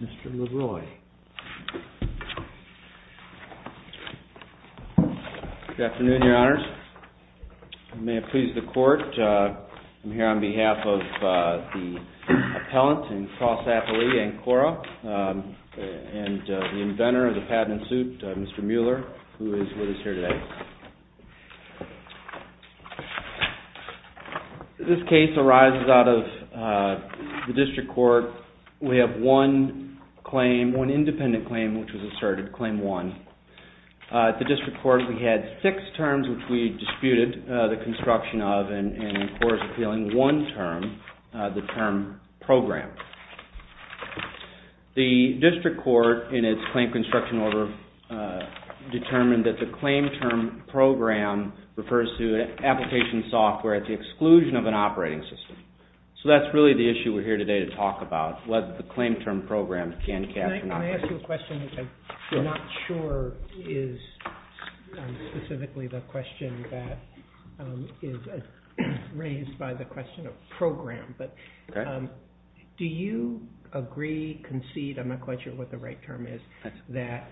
Mr. LeRoy. Good afternoon, Your Honors. May it please the Court, I'm here on behalf of the appellant in CrossApply, Ancora, and the inventor of the patent suit, Mr. Mueller, who is with us here today. This case arises out of the District Court. We have one claim, one independent claim, which was asserted, Claim 1. At the District Court, we had six terms which we disputed the construction of and, of course, appealing one term, the term program. The District Court, in its Claim Construction Order, determined that the claim term program refers to an application software at the exclusion of an operating system. So that's really the issue we're here today to talk about, whether the claim term program can capture an operating system. Can I ask you a question that I'm not sure is specifically the question that is raised by the question of program? Do you agree, concede, I'm not quite sure what the right term is, that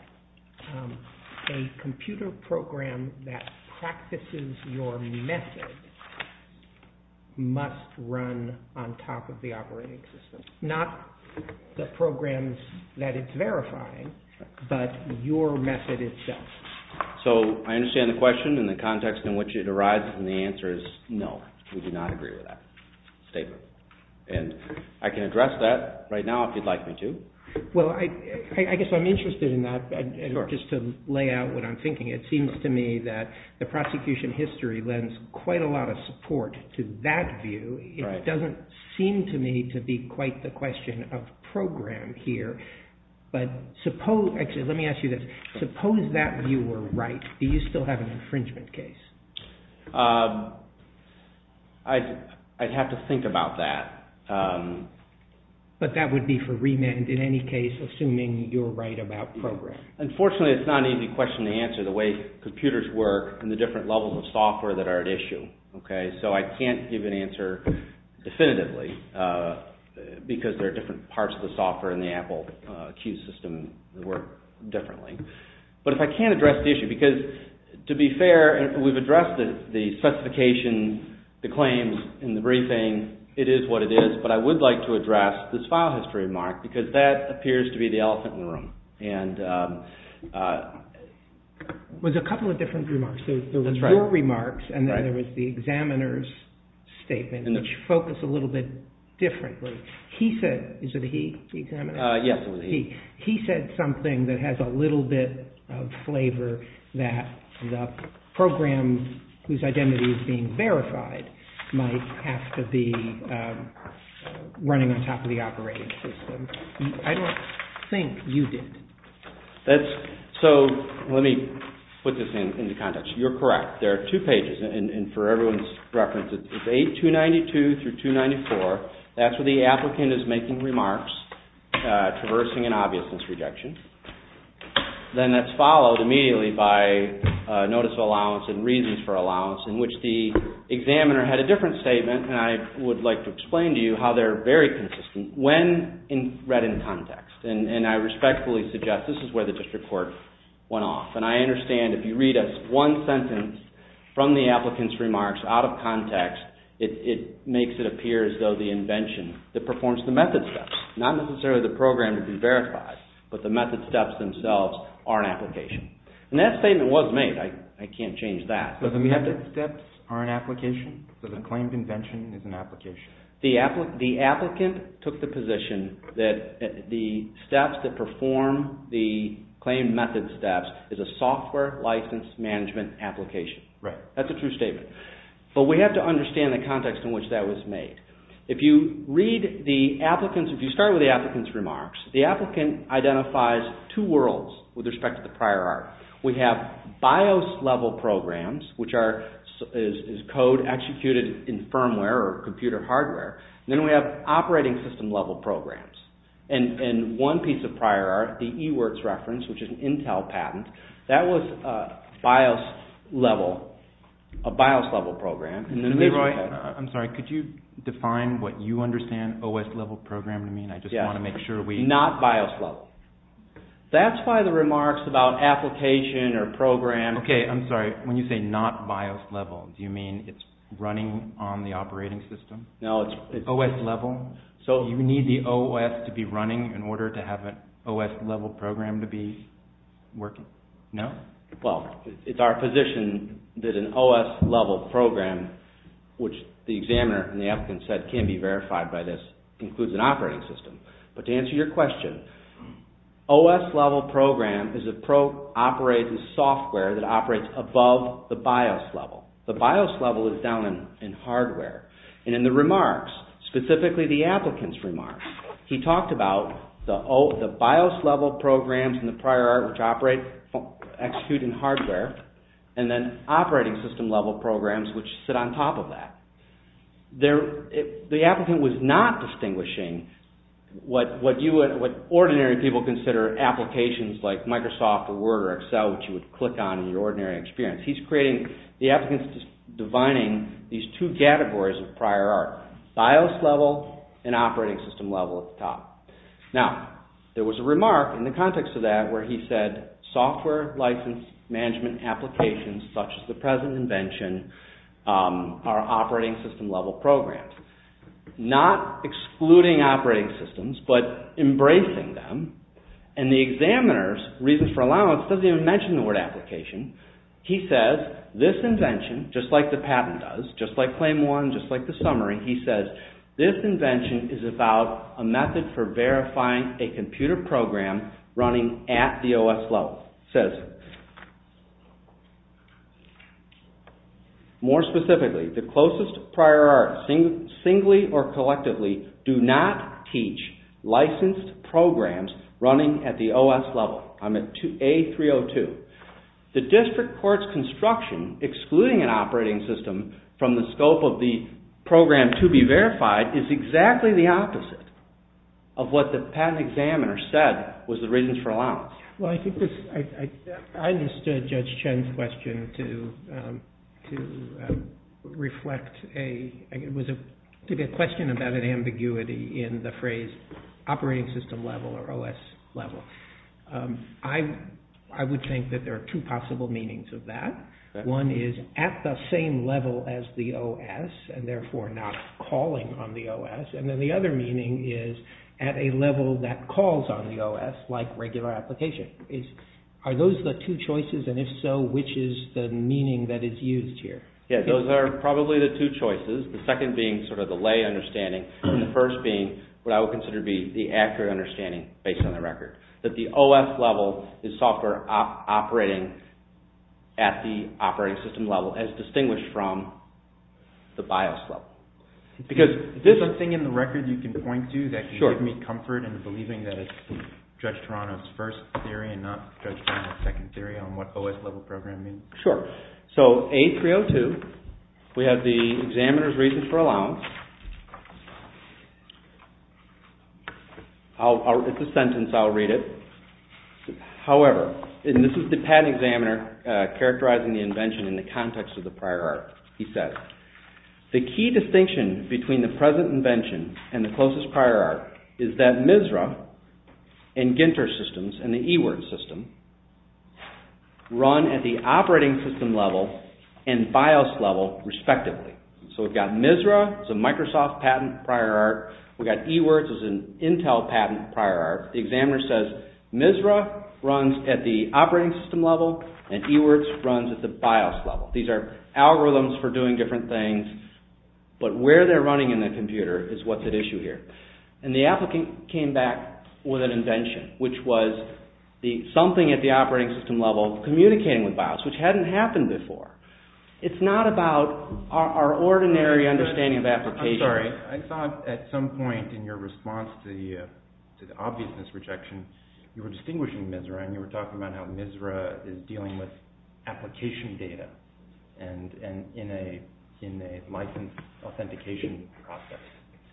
a computer program that practices your method must run on top of the operating system? Not the programs that it's verifying, but your method itself. So I understand the question and the context in which it arises, and the answer is no, we do not agree with that statement. And I can address that right now if you'd like me to. Well, I guess I'm interested in that, just to lay out what I'm thinking. It seems to me that the prosecution history lends quite a lot of support to that view. It doesn't seem to me to be quite the question of program here. Let me ask you this. Suppose that view were right, do you still have an infringement case? I'd have to think about that. But that would be for remand in any case, assuming you're right about program. Unfortunately, it's not an easy question to answer, the way computers work and the different levels of software that are at issue. So I can't give an answer definitively, because there are different parts of the software in the Apple Q system that work differently. But if I can address the issue, because to be fair, we've addressed the specification, the claims in the briefing, it is what it is. But I would like to address this file history remark, because that appears to be the elephant in the room. There was a couple of different remarks. There was your remarks, and then there was the examiner's statement, which focused a little bit differently. He said something that has a little bit of flavor that the program whose identity is being verified might have to be running on top of the operating system. I don't think you did. So let me put this into context. You're correct. There are two pages, and for everyone's reference, it's page 292 through 294. That's where the applicant is making remarks, traversing an obviousness rejection. Then that's followed immediately by notice of allowance and reasons for allowance, in which the examiner had a different statement, and I would like to explain to you how they're very consistent when read in context. I respectfully suggest this is where the district court went off. I understand if you read us one sentence from the applicant's remarks out of context, it makes it appear as though the invention that performs the method steps, not necessarily the program to be verified, but the method steps themselves are an application. And that statement was made. I can't change that. So the method steps are an application? So the claimed invention is an application? The applicant took the position that the steps that perform the claimed method steps is a software license management application. That's a true statement. But we have to understand the context in which that was made. If you start with the applicant's remarks, the applicant identifies two worlds with respect to the prior art. We have BIOS-level programs, which is code executed in firmware or computer hardware. Then we have operating system-level programs. And one piece of prior art, the eWorks reference, which is an Intel patent, that was a BIOS-level program. I'm sorry, could you define what you understand OS-level program to mean? I just want to make sure we... Not BIOS-level. That's why the remarks about application or program... Okay, I'm sorry. When you say not BIOS-level, do you mean it's running on the operating system? No, it's... OS-level? So you need the OS to be running in order to have an OS-level program to be working? No? Well, it's our position that an OS-level program, which the examiner and the applicant said can be verified by this, includes an operating system. But to answer your question, OS-level program is a software that operates above the BIOS-level. The BIOS-level is down in hardware. And in the remarks, specifically the applicant's remarks, he talked about the BIOS-level programs in the prior art, which operate, execute in hardware, and then operating system-level programs, which sit on top of that. The applicant was not distinguishing what ordinary people consider applications like Microsoft or Word or Excel, which you would click on in your ordinary experience. He's creating, the applicant's defining these two categories of prior art, BIOS-level and operating system-level at the top. Now, there was a remark in the context of that where he said, software license management applications such as the present invention are operating system-level programs. Not excluding operating systems, but embracing them. And the examiner's reason for allowance doesn't even mention the word application. He says, this invention, just like the patent does, just like claim one, just like the summary, he says, this invention is about a method for verifying a computer program running at the OS-level. He says, more specifically, the closest prior art, singly or collectively, do not teach licensed programs running at the OS-level. I'm at A302. The district court's construction, excluding an operating system from the scope of the program to be verified, is exactly the opposite of what the patent examiner said was the reasons for allowance. Well, I think this, I understood Judge Chen's question to reflect a, it was a question about an ambiguity in the phrase operating system-level or OS-level. I would think that there are two possible meanings of that. One is at the same level as the OS, and therefore not calling on the OS. And then the other meaning is at a level that calls on the OS, like regular application. Are those the two choices, and if so, which is the meaning that is used here? Yeah, those are probably the two choices. The second being sort of the lay understanding, and the first being what I would consider to be the accurate understanding based on the record, that the OS-level is software operating at the operating system-level, as distinguished from the BIOS-level. Is there something in the record you can point to that can give me comfort in believing that it's Judge Taranoff's first theory and not Judge Taranoff's second theory on what OS-level program means? Sure. So A302, we have the examiner's reason for allowance. It's a sentence, I'll read it. However, and this is the patent examiner characterizing the invention in the context of the prior art. He says, the key distinction between the present invention and the closest prior art is that MISRA and Ginter systems and the eWords system run at the operating system-level and BIOS-level, respectively. So we've got MISRA, it's a Microsoft patent prior art. We've got eWords, it's an Intel patent prior art. The examiner says, MISRA runs at the operating system-level, and eWords runs at the BIOS-level. These are algorithms for doing different things, but where they're running in the computer is what's at issue here. And the applicant came back with an invention, which was something at the operating system-level communicating with BIOS, which hadn't happened before. It's not about our ordinary understanding of applications. I'm sorry, I thought at some point in your response to the obviousness rejection, you were distinguishing MISRA, and you were talking about how MISRA is dealing with application data and in a license authentication process.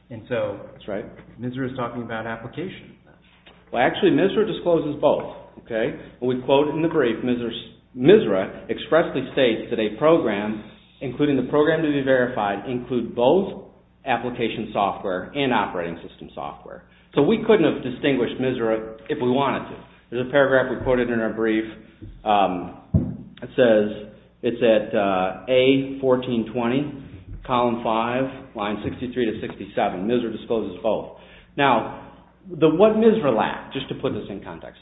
That's right. MISRA is talking about application. Actually, MISRA discloses both. We quote in the brief, MISRA expressly states that a program, including the program to be verified, include both application software and operating system software. So we couldn't have distinguished MISRA if we wanted to. There's a paragraph we quoted in our brief. It says, it's at A1420, column 5, line 63 to 67. MISRA discloses both. Now, what MISRA lacked, just to put this in context,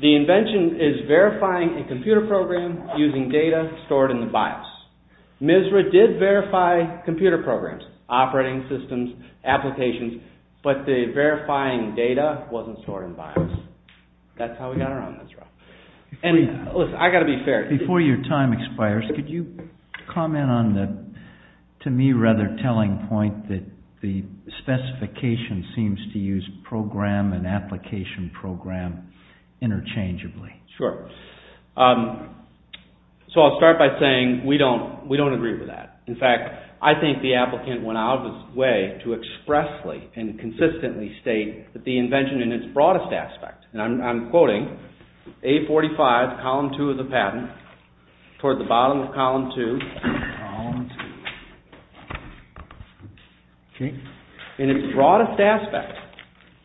the invention is verifying a computer program using data stored in the BIOS. MISRA did verify computer programs, operating systems, applications, but the verifying data wasn't stored in BIOS. That's how we got around MISRA. Listen, I've got to be fair. Before your time expires, could you comment on the, to me rather, telling point that the specification seems to use program and application program interchangeably? Sure. So I'll start by saying we don't agree with that. In fact, I think the applicant went out of his way to expressly and consistently state that the invention in its broadest aspect, and I'm quoting, A45, column 2 of the patent, toward the bottom of column 2. In its broadest aspect,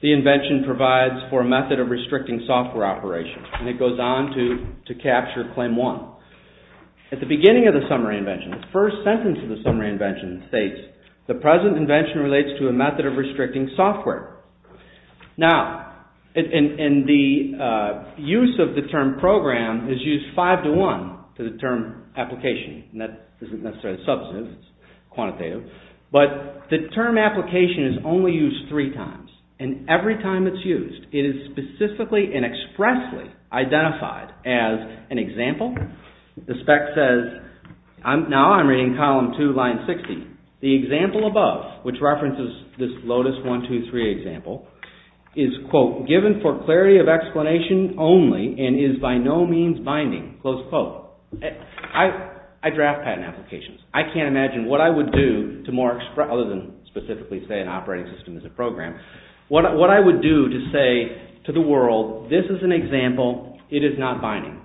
the invention provides for a method of restricting software operation, and it goes on to capture claim 1. At the beginning of the summary invention, the first sentence of the summary invention states, the present invention relates to a method of restricting software. Now, in the use of the term program is used 5 to 1 for the term application, and that isn't necessarily substantive. It's quantitative. But the term application is only used three times, and every time it's used, it is specifically and expressly identified as an example. The spec says, now I'm reading column 2, line 60. The example above, which references this Lotus 1, 2, 3 example, is, quote, given for clarity of explanation only and is by no means binding, close quote. I draft patent applications. I can't imagine what I would do to more, other than specifically say an operating system is a program, what I would do to say to the world, this is an example. It is not binding.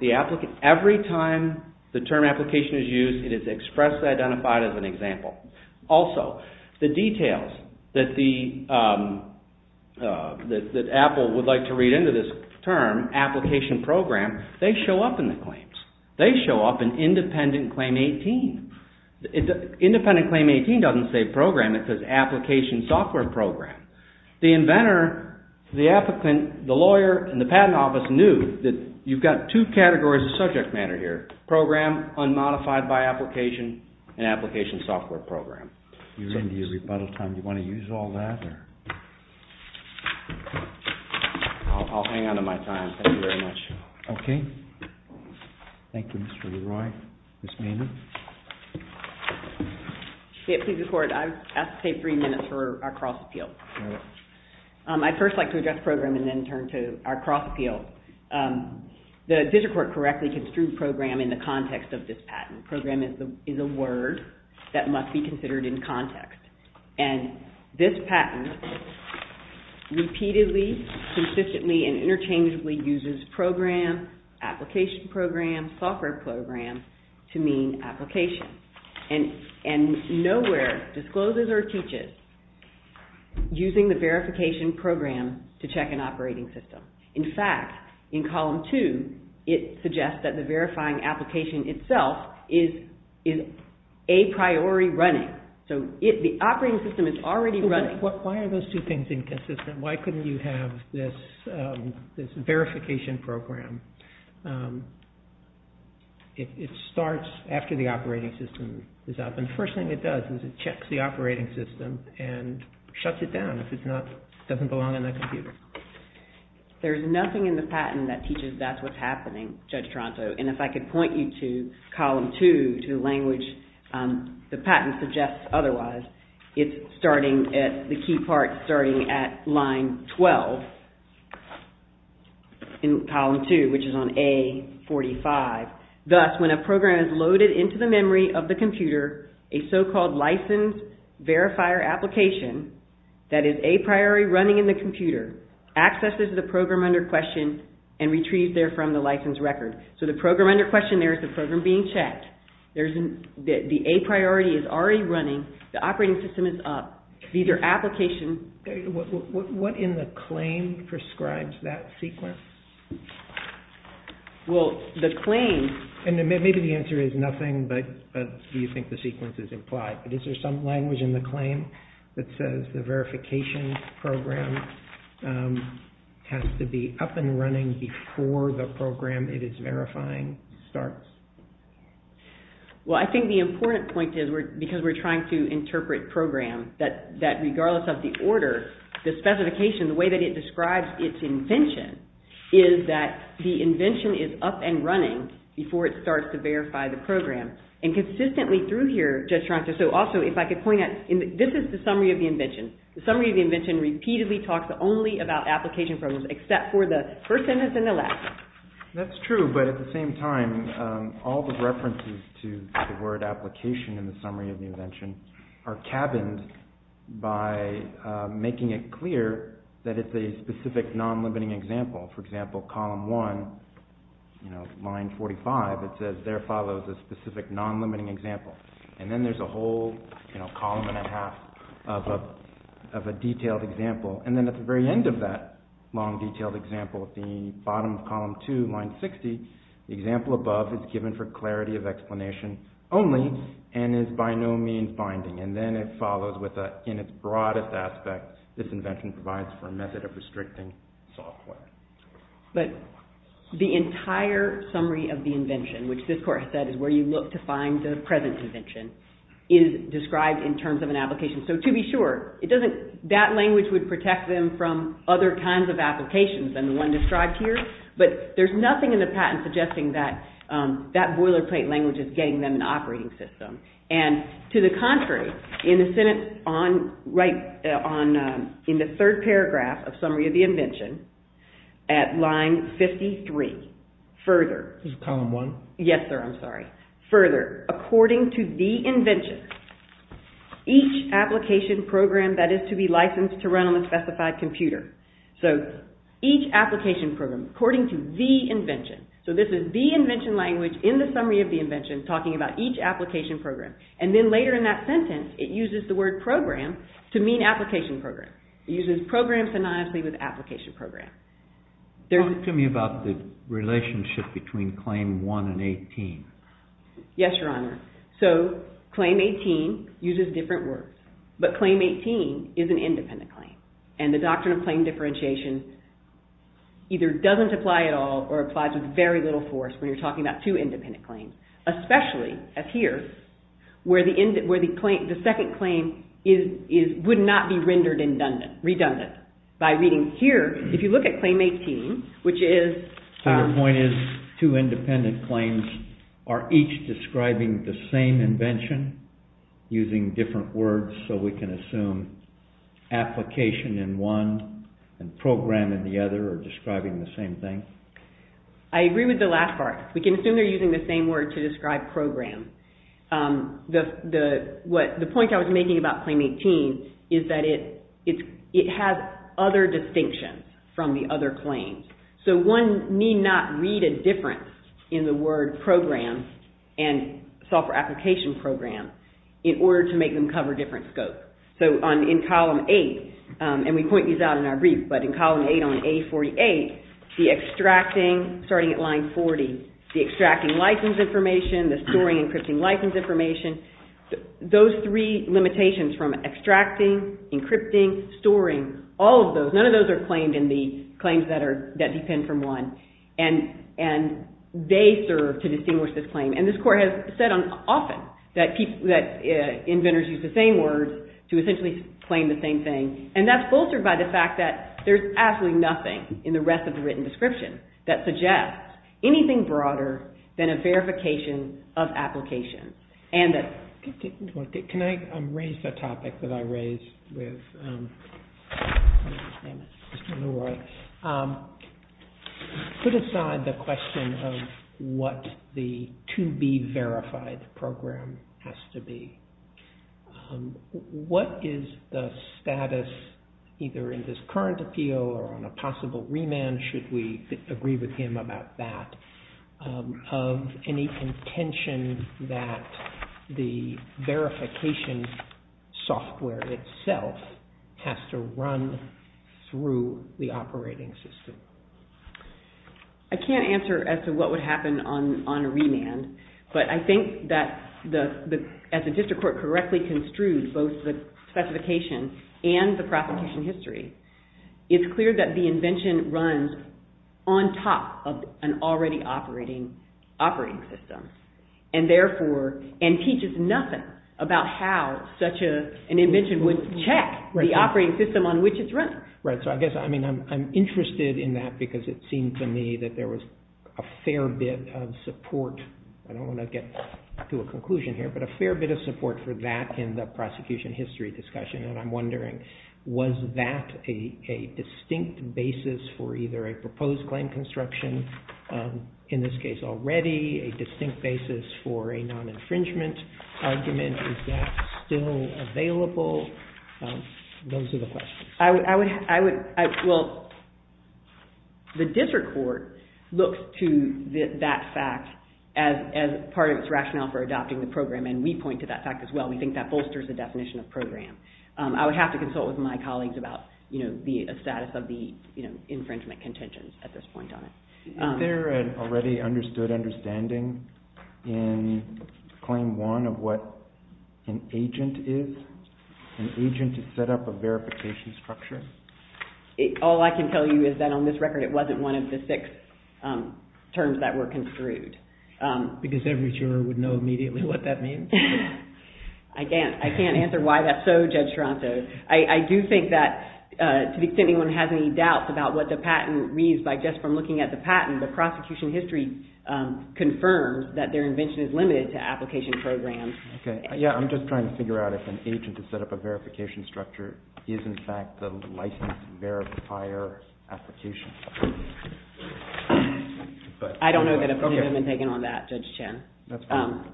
Every time the term application is used, it is expressly identified as an example. Also, the details that Apple would like to read into this term, application program, they show up in the claims. They show up in independent claim 18. Independent claim 18 doesn't say program. It says application software program. The inventor, the applicant, the lawyer, and the patent office knew that you've got two categories of subject matter here, program, unmodified by application, and application software program. You're into your rebuttal time. Do you want to use all that? I'll hang on to my time. Thank you very much. Okay. Thank you, Mr. LeRoy. Ms. Maynard? Yeah, please record. I have to take three minutes for our cross-appeal. I'd first like to address program and then turn to our cross-appeal. The District Court correctly construed program in the context of this patent. Program is a word that must be considered in context. And this patent repeatedly, consistently, and interchangeably uses program, application program, software program to mean application. And nowhere discloses or teaches using the verification program to check an operating system. In fact, in column two, it suggests that the verifying application itself is a priori running. So the operating system is already running. Why are those two things inconsistent? Why couldn't you have this verification program? It starts after the operating system is up. And the first thing it does is it checks the operating system and shuts it down if it doesn't belong on that computer. There's nothing in the patent that teaches that's what's happening, Judge Toronto. And if I could point you to column two, to the language the patent suggests otherwise, it's starting at the key part starting at line 12 in column two, which is on A45. Thus, when a program is loaded into the memory of the computer, a so-called license verifier application that is a priori running in the computer accesses the program under question and retrieves there from the license record. So the program under question there is the program being checked. The a priori is already running. The operating system is up. These are applications. What in the claim prescribes that sequence? Well, the claim... Maybe the answer is nothing, but do you think the sequence is implied? But is there some language in the claim that says the verification program has to be up and running before the program it is verifying starts? Well, I think the important point is because we're trying to interpret program that regardless of the order, the specification, the way that it describes its invention is that the invention is up and running before it starts to verify the program. And consistently through here, Judge Tronco, so also if I could point out, this is the summary of the invention. The summary of the invention repeatedly talks only about application programs except for the first sentence and the last. That's true, but at the same time, all the references to the word application in the summary of the invention are cabined by making it clear that it's a specific non-limiting example. For example, column 1, line 45, it says, there follows a specific non-limiting example. And then there's a whole column and a half of a detailed example. And then at the very end of that long detailed example, at the bottom of column 2, line 60, the example above is given for clarity of explanation only and is by no means binding. And then it follows with, in its broadest aspect, this invention provides for a method of restricting software. But the entire summary of the invention, which this court has said is where you look to find the present invention, is described in terms of an application. So to be sure, that language would protect them from other kinds of applications than the one described here, but there's nothing in the patent suggesting that that boilerplate language is getting them an operating system. And to the contrary, in the third paragraph of Summary of the Invention, at line 53, further, according to the invention, each application program that is to be licensed to run on a specified computer. So each application program, according to the invention. So this is the invention language in the Summary of the Invention talking about each application program. And then later in that sentence, it uses the word program to mean application program. It uses program phonetically with application program. Talk to me about the relationship between Claim 1 and 18. Yes, Your Honor. So Claim 18 uses different words. But Claim 18 is an independent claim. And the doctrine of claim differentiation either doesn't apply at all or applies with very little force when you're talking about two independent claims. Especially as here, where the second claim would not be rendered redundant. By reading here, if you look at Claim 18, which is... So your point is two independent claims are each describing the same invention using different words so we can assume application in one and program in the other are describing the same thing? I agree with the last part. We can assume they're using the same word to describe program. The point I was making about Claim 18 is that it has other distinctions from the other claims. So one need not read a difference in the word program and software application program in order to make them cover different scopes. So in Column 8, and we point these out in our brief, but in Column 8 on A48, the extracting, starting at line 40, the extracting license information, the storing and encrypting license information, those three limitations from extracting, encrypting, storing, all of those, none of those are claimed in the claims that depend from one. And they serve to distinguish this claim. And this Court has said often that inventors use the same words to essentially claim the same thing. And that's bolstered by the fact that there's absolutely nothing in the rest of the written description that suggests anything broader than a verification of application. Can I raise a topic that I raised with Mr. LeRoy? Put aside the question of what the to-be-verified program has to be, what is the status, either in this current appeal or on a possible remand, should we agree with him about that, of any intention that the verification software itself has to run through the operating system? I can't answer as to what would happen on a remand, but I think that as the District Court correctly construed both the specification and the prosecution history, it's clear that the invention runs on top of an already operating system and teaches nothing about how such an invention would check the operating system on which it's run. Right, so I guess I'm interested in that because it seems to me that there was a fair bit of support. I don't want to get to a conclusion here, but a fair bit of support for that in the prosecution history discussion, and I'm wondering, was that a distinct basis for either a proposed claim construction, in this case already, a distinct basis for a non-infringement argument? Is that still available? Those are the questions. Well, the District Court looks to that fact as part of its rationale for adopting the program, and we point to that fact as well. We think that bolsters the definition of program. I would have to consult with my colleagues about the status of the infringement contentions at this point on it. Is there an already understood understanding in Claim 1 of what an agent is? An agent is set up a verification structure? All I can tell you is that on this record it wasn't one of the six terms that were construed. Because every juror would know immediately what that means? I can't answer why that's so, Judge Toronto. I do think that to the extent anyone has any doubts about what the patent reads, by just from looking at the patent, the prosecution history confirms that their invention is limited to application programs. Yeah, I'm just trying to figure out if an agent is set up a verification structure is in fact the licensed verifier application. I don't know that a point had been taken on that, Judge Chen. That's fine.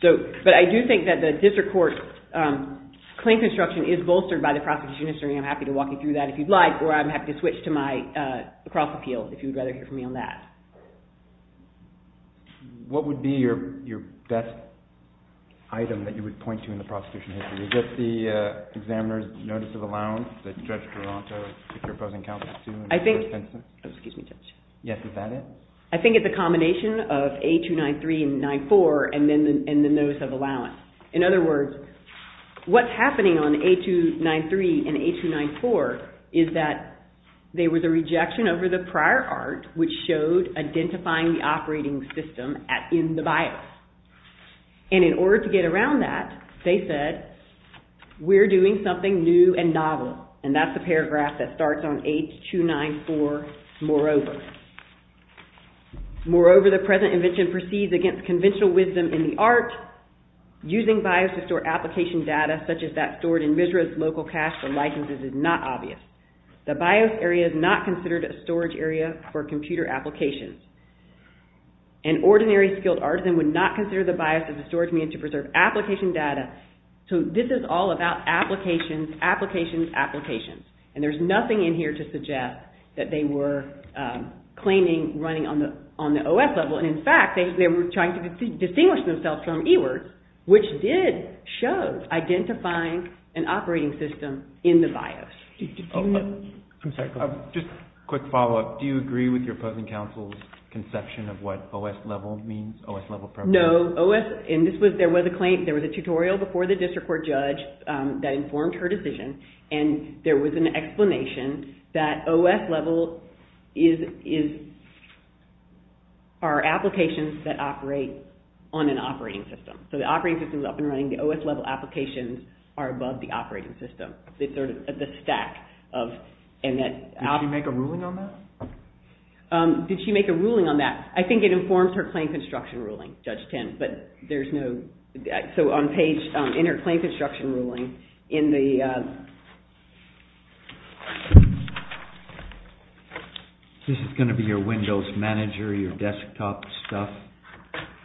But I do think that the District Court claim construction is bolstered by the prosecution history, and I'm happy to walk you through that if you'd like, or I'm happy to switch to my cross-appeal if you'd rather hear from me on that. What would be your best item that you would point to in the prosecution history? Is it the examiner's notice of allowance that Judge Toronto took your opposing counsel to? I think... Excuse me, Judge. Yes, is that it? I think it's a combination of A293 and 94 and the notice of allowance. In other words, what's happening on A293 and A294 is that there was a rejection over the prior art which showed identifying the operating system in the bio. And in order to get around that, they said, we're doing something new and novel, and that's the paragraph that starts on H294, moreover. Moreover, the present invention proceeds against conventional wisdom in the art. Using bios to store application data such as that stored in MISRA's local cache for licenses is not obvious. The bios area is not considered a storage area for computer applications. An ordinary skilled artisan would not consider the bios as a storage area to preserve application data. So this is all about applications, applications, applications. And there's nothing in here to suggest that they were claiming running on the OS level. And in fact, they were trying to distinguish themselves from eWords, which did show identifying an operating system in the bios. I'm sorry, go ahead. Just a quick follow-up. Do you agree with your opposing counsel's conception of what OS level means, OS level program? No, OS, and this was, there was a claim, there was a tutorial before the district court judge that informed her decision, and there was an explanation that OS level is, are applications that operate on an operating system. So the operating system is up and running, the OS level applications are above the operating system. They sort of, the stack of, and that. Did she make a ruling on that? Did she make a ruling on that? I think it informs her claim construction ruling, Judge Timm, but there's no, so on page, in her claim construction ruling, in the... This is going to be your Windows manager, your desktop stuff,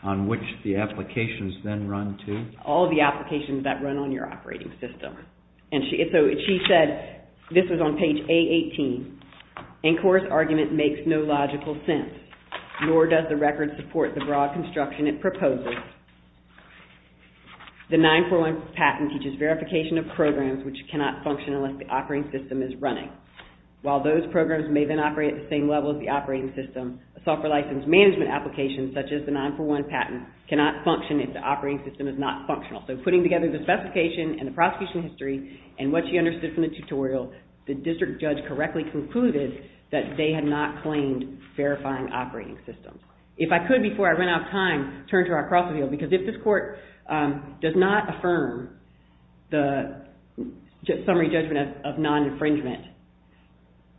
on which the applications then run to? All the applications that run on your operating system. And so she said, this was on page A18, Incor's argument makes no logical sense, nor does the record support the broad construction it proposes. The 9-4-1 patent teaches verification of programs which cannot function unless the operating system is running. While those programs may then operate at the same level as the operating system, a software license management application such as the 9-4-1 patent cannot function if the operating system is not functional. So putting together the specification and the prosecution history and what she understood from the tutorial, the district judge correctly concluded that they had not claimed verifying operating systems. If I could, before I run out of time, turn to our cross-reveal, because if this court does not affirm the summary judgment of non-infringement,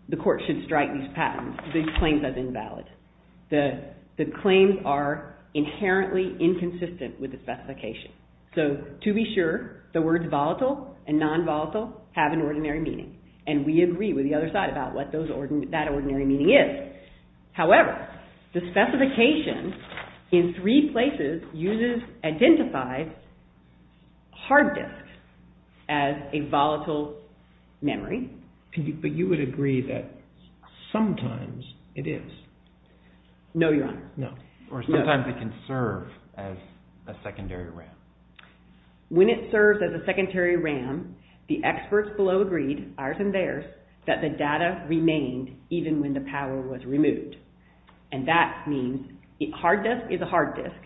the court should strike these claims as invalid. The claims are inherently inconsistent with the specification. So, to be sure, the words volatile and non-volatile have an ordinary meaning, and we agree with the other side about what that ordinary meaning is. However, the specification in three places identifies hard disks as a volatile memory. No, Your Honor. Or sometimes it can serve as a secondary RAM. When it serves as a secondary RAM, the experts below agreed, ours and theirs, that the data remained even when the power was removed. And that means a hard disk is a hard disk.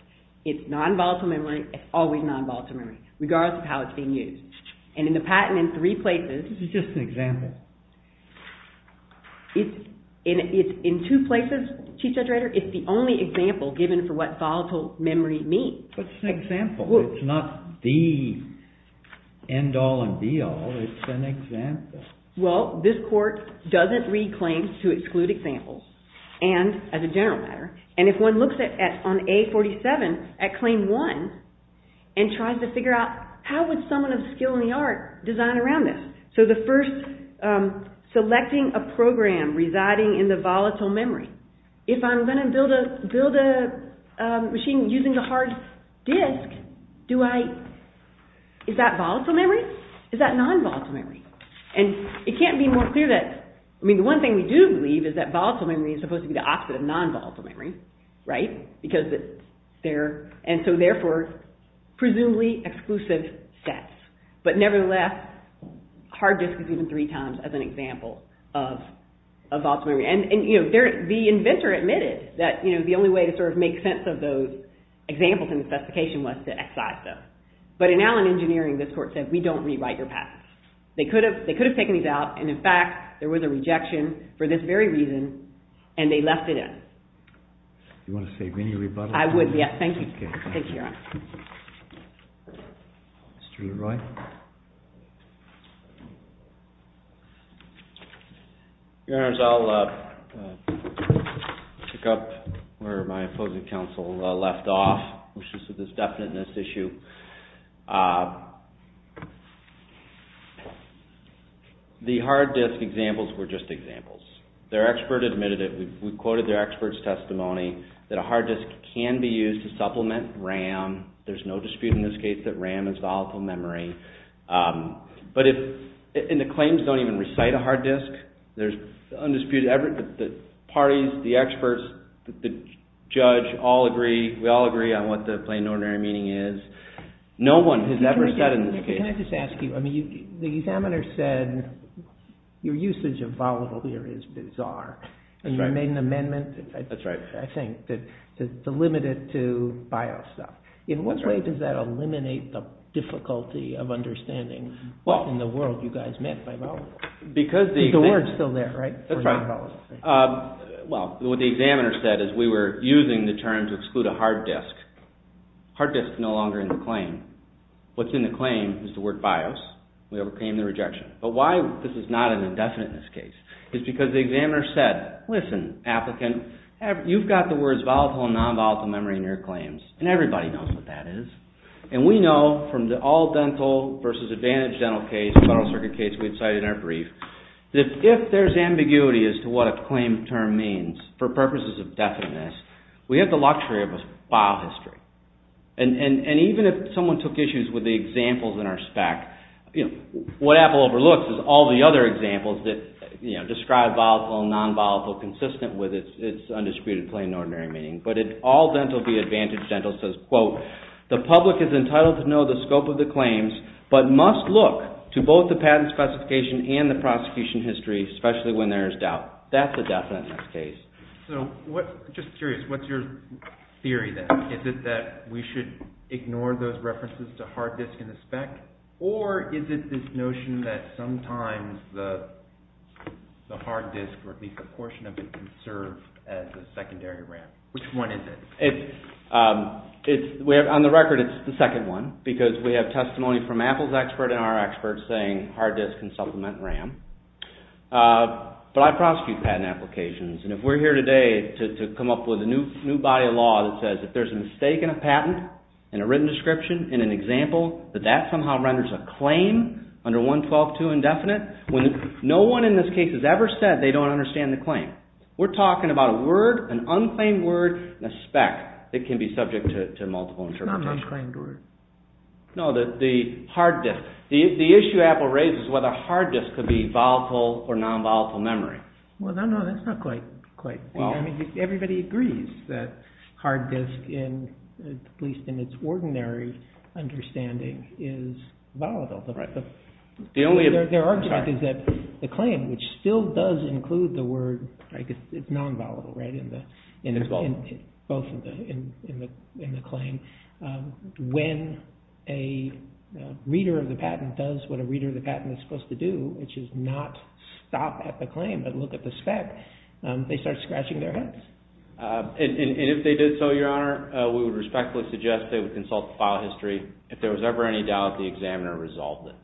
It's non-volatile memory. It's always non-volatile memory, regardless of how it's being used. And in the patent, in three places... This is just an example. In two places, Chief Judge Rader, it's the only example given for what volatile memory means. But it's an example. It's not the end-all and be-all. It's an example. Well, this court doesn't read claims to exclude examples, as a general matter. And if one looks on A47, at Claim 1, and tries to figure out, how would someone of skill in the art design around this? So the first... Selecting a program residing in the volatile memory. If I'm going to build a machine using the hard disk, do I... Is that volatile memory? Is that non-volatile memory? And it can't be more clear that... I mean, the one thing we do believe is that volatile memory is supposed to be the opposite of non-volatile memory. Right? Because it's... And so, therefore, presumably exclusive sets. But, nevertheless, hard disk is even three times as an example of volatile memory. And, you know, the inventor admitted that the only way to sort of make sense of those examples in the specification was to excise them. But in Allen Engineering, this court said, we don't rewrite your patents. They could have taken these out, and, in fact, there was a rejection for this very reason, and they left it in. Do you want to say any rebuttal? I would, yes. Thank you. Okay. Thank you, Your Honor. Mr. Leroy. Your Honors, I'll pick up where my opposing counsel left off, which is with this definiteness issue. The hard disk examples were just examples. Their expert admitted it. We quoted their expert's testimony that a hard disk can be used to supplement RAM. There's no dispute in this case that RAM is volatile memory. But if... And the claims don't even recite a hard disk. There's undisputed... The parties, the experts, the judge, all agree. We all agree on what the plain and ordinary meaning is. No one has ever said in this case... Can I just ask you? I mean, the examiner said your usage of volatile here is bizarre. That's right. The examiner made an amendment, I think, to limit it to BIOS stuff. In what way does that eliminate the difficulty of understanding what in the world you guys meant by volatile? The word's still there, right? That's right. Well, what the examiner said is we were using the term to exclude a hard disk. Hard disk is no longer in the claim. What's in the claim is the word BIOS. We overcame the rejection. But why this is not an indefiniteness case is because the examiner said, listen, applicant, you've got the words volatile and non-volatile memory in your claims, and everybody knows what that is. And we know from the all dental versus advantage dental case, the Federal Circuit case we cited in our brief, that if there's ambiguity as to what a claim term means for purposes of definiteness, we have the luxury of a file history. And even if someone took issues with the examples in our spec, what Apple overlooks is all the other examples that describe volatile and non-volatile consistent with its undisputed plain and ordinary meaning. But all dental v. advantage dental says, quote, the public is entitled to know the scope of the claims but must look to both the patent specification and the prosecution history, especially when there is doubt. That's a definiteness case. Just curious, what's your theory then? Is it that we should ignore those references to hard disk in the spec? Or is it this notion that sometimes the hard disk or at least a portion of it can serve as a secondary RAM? Which one is it? On the record, it's the second one because we have testimony from Apple's expert and our experts saying hard disk can supplement RAM. But I prosecute patent applications. And if we're here today to come up with a new body of law that says if there's a mistake in a patent and a written description in an example that that somehow renders a claim under 112-2 indefinite, when no one in this case has ever said they don't understand the claim, we're talking about a word, an unclaimed word, a spec that can be subject to multiple interpretations. Not an unclaimed word. No, the hard disk. The issue Apple raises is whether hard disk could be volatile or non-volatile memory. Well, no, no, that's not quite. I mean, everybody agrees that hard disk at least in its ordinary understanding is volatile. Their argument is that the claim, which still does include the word, it's non-volatile, right, in the claim. When a reader of the patent does what a reader of the patent is supposed to do, which is not stop at the claim but look at the spec, they start scratching their heads. And if they did so, Your Honor, we would respectfully suggest they would consult the file history. If there was ever any doubt, the examiner resolved it.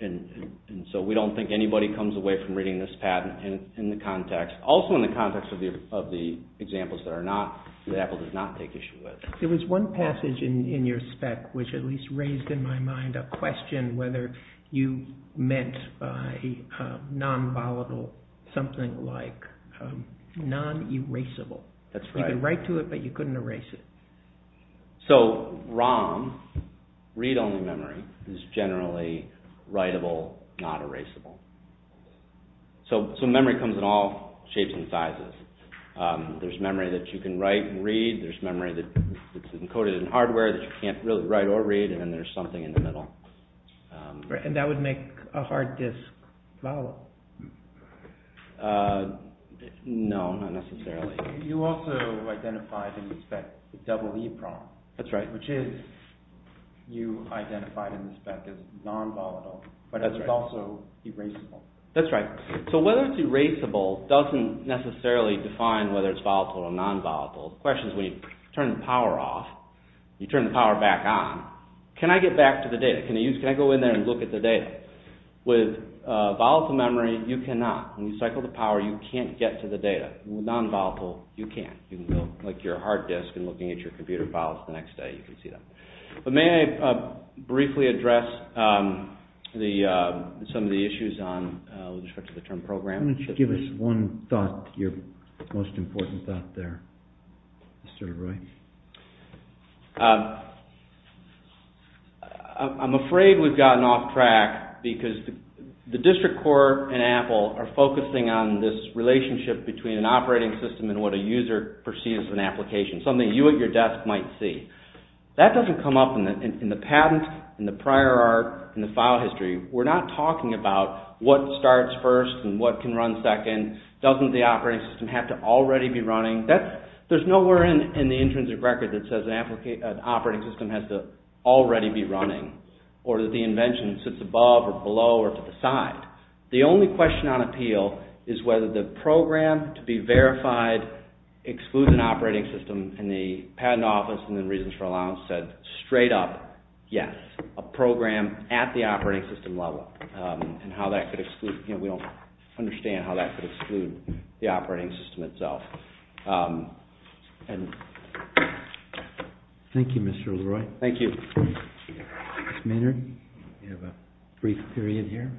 And so we don't think anybody comes away from reading this patent in the context, also in the context of the examples that Apple does not take issue with. There was one passage in your spec which at least raised in my mind a question whether you meant by non-volatile something like non-erasable. That's right. You could write to it but you couldn't erase it. So ROM, read-only memory, is generally writable, not erasable. So memory comes in all shapes and sizes. There's memory that you can write and read. There's memory that's encoded in hardware that you can't really write or read. And then there's something in the middle. And that would make a hard disk volatile. No, not necessarily. You also identified in the spec double EPROM. That's right. Which is, you identified in the spec as non-volatile but it's also erasable. That's right. So whether it's erasable doesn't necessarily define whether it's volatile or non-volatile. The question is when you turn the power off, you turn the power back on, can I get back to the data? Can I go in there and look at the data? With volatile memory, you cannot. When you cycle the power, you can't get to the data. With non-volatile, you can. Like your hard disk and looking at your computer files the next day, you can see that. But may I briefly address some of the issues on the term program? Why don't you give us one thought, your most important thought there, Mr. LeRoy. I'm afraid we've gotten off track because the district court and Apple are focusing on this relationship between an operating system and what a user perceives as an application, something you at your desk might see. That doesn't come up in the patent, in the prior art, in the file history. We're not talking about what starts first and what can run second. Doesn't the operating system have to already be running? There's nowhere in the intrinsic record that says an operating system has to already be running or that the invention sits above or below or to the side. The only question on appeal is whether the program to be verified excludes an operating system. And the patent office and the reasons for allowance said straight up, yes. A program at the operating system level and how that could exclude, we don't understand how that could exclude the operating system itself. Thank you, Mr. LeRoy. Thank you. Ms. Maynard, you have a brief period here.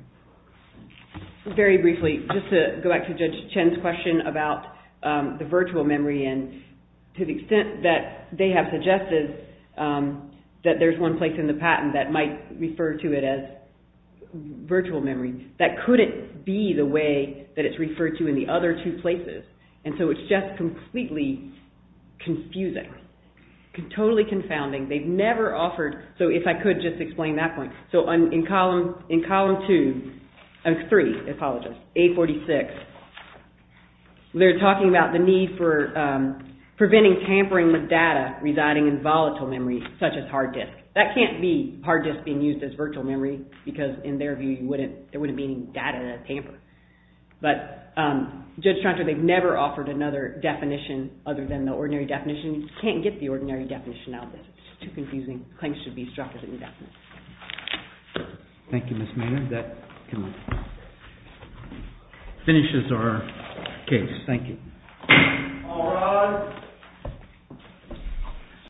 Very briefly, just to go back to Judge Chen's question about the virtual memory and to the extent that they have suggested that there's one place in the patent that might refer to it as virtual memory, that couldn't be the way that it's referred to in the other two places. And so it's just completely confusing, totally confounding. They've never offered, so if I could just explain that point. So in column two, three, I apologize, 846, they're talking about the need for preventing tampering with data residing in volatile memory such as hard disk. That can't be hard disk being used as virtual memory because in their view, there wouldn't be any data to tamper. But Judge Tranter, they've never offered another definition other than the ordinary definition. You can't get the ordinary definition out there. It's too confusing. Claims should be struck as indefinite. Thank you, Ms. Maynard. That finishes our case. Thank you. All rise.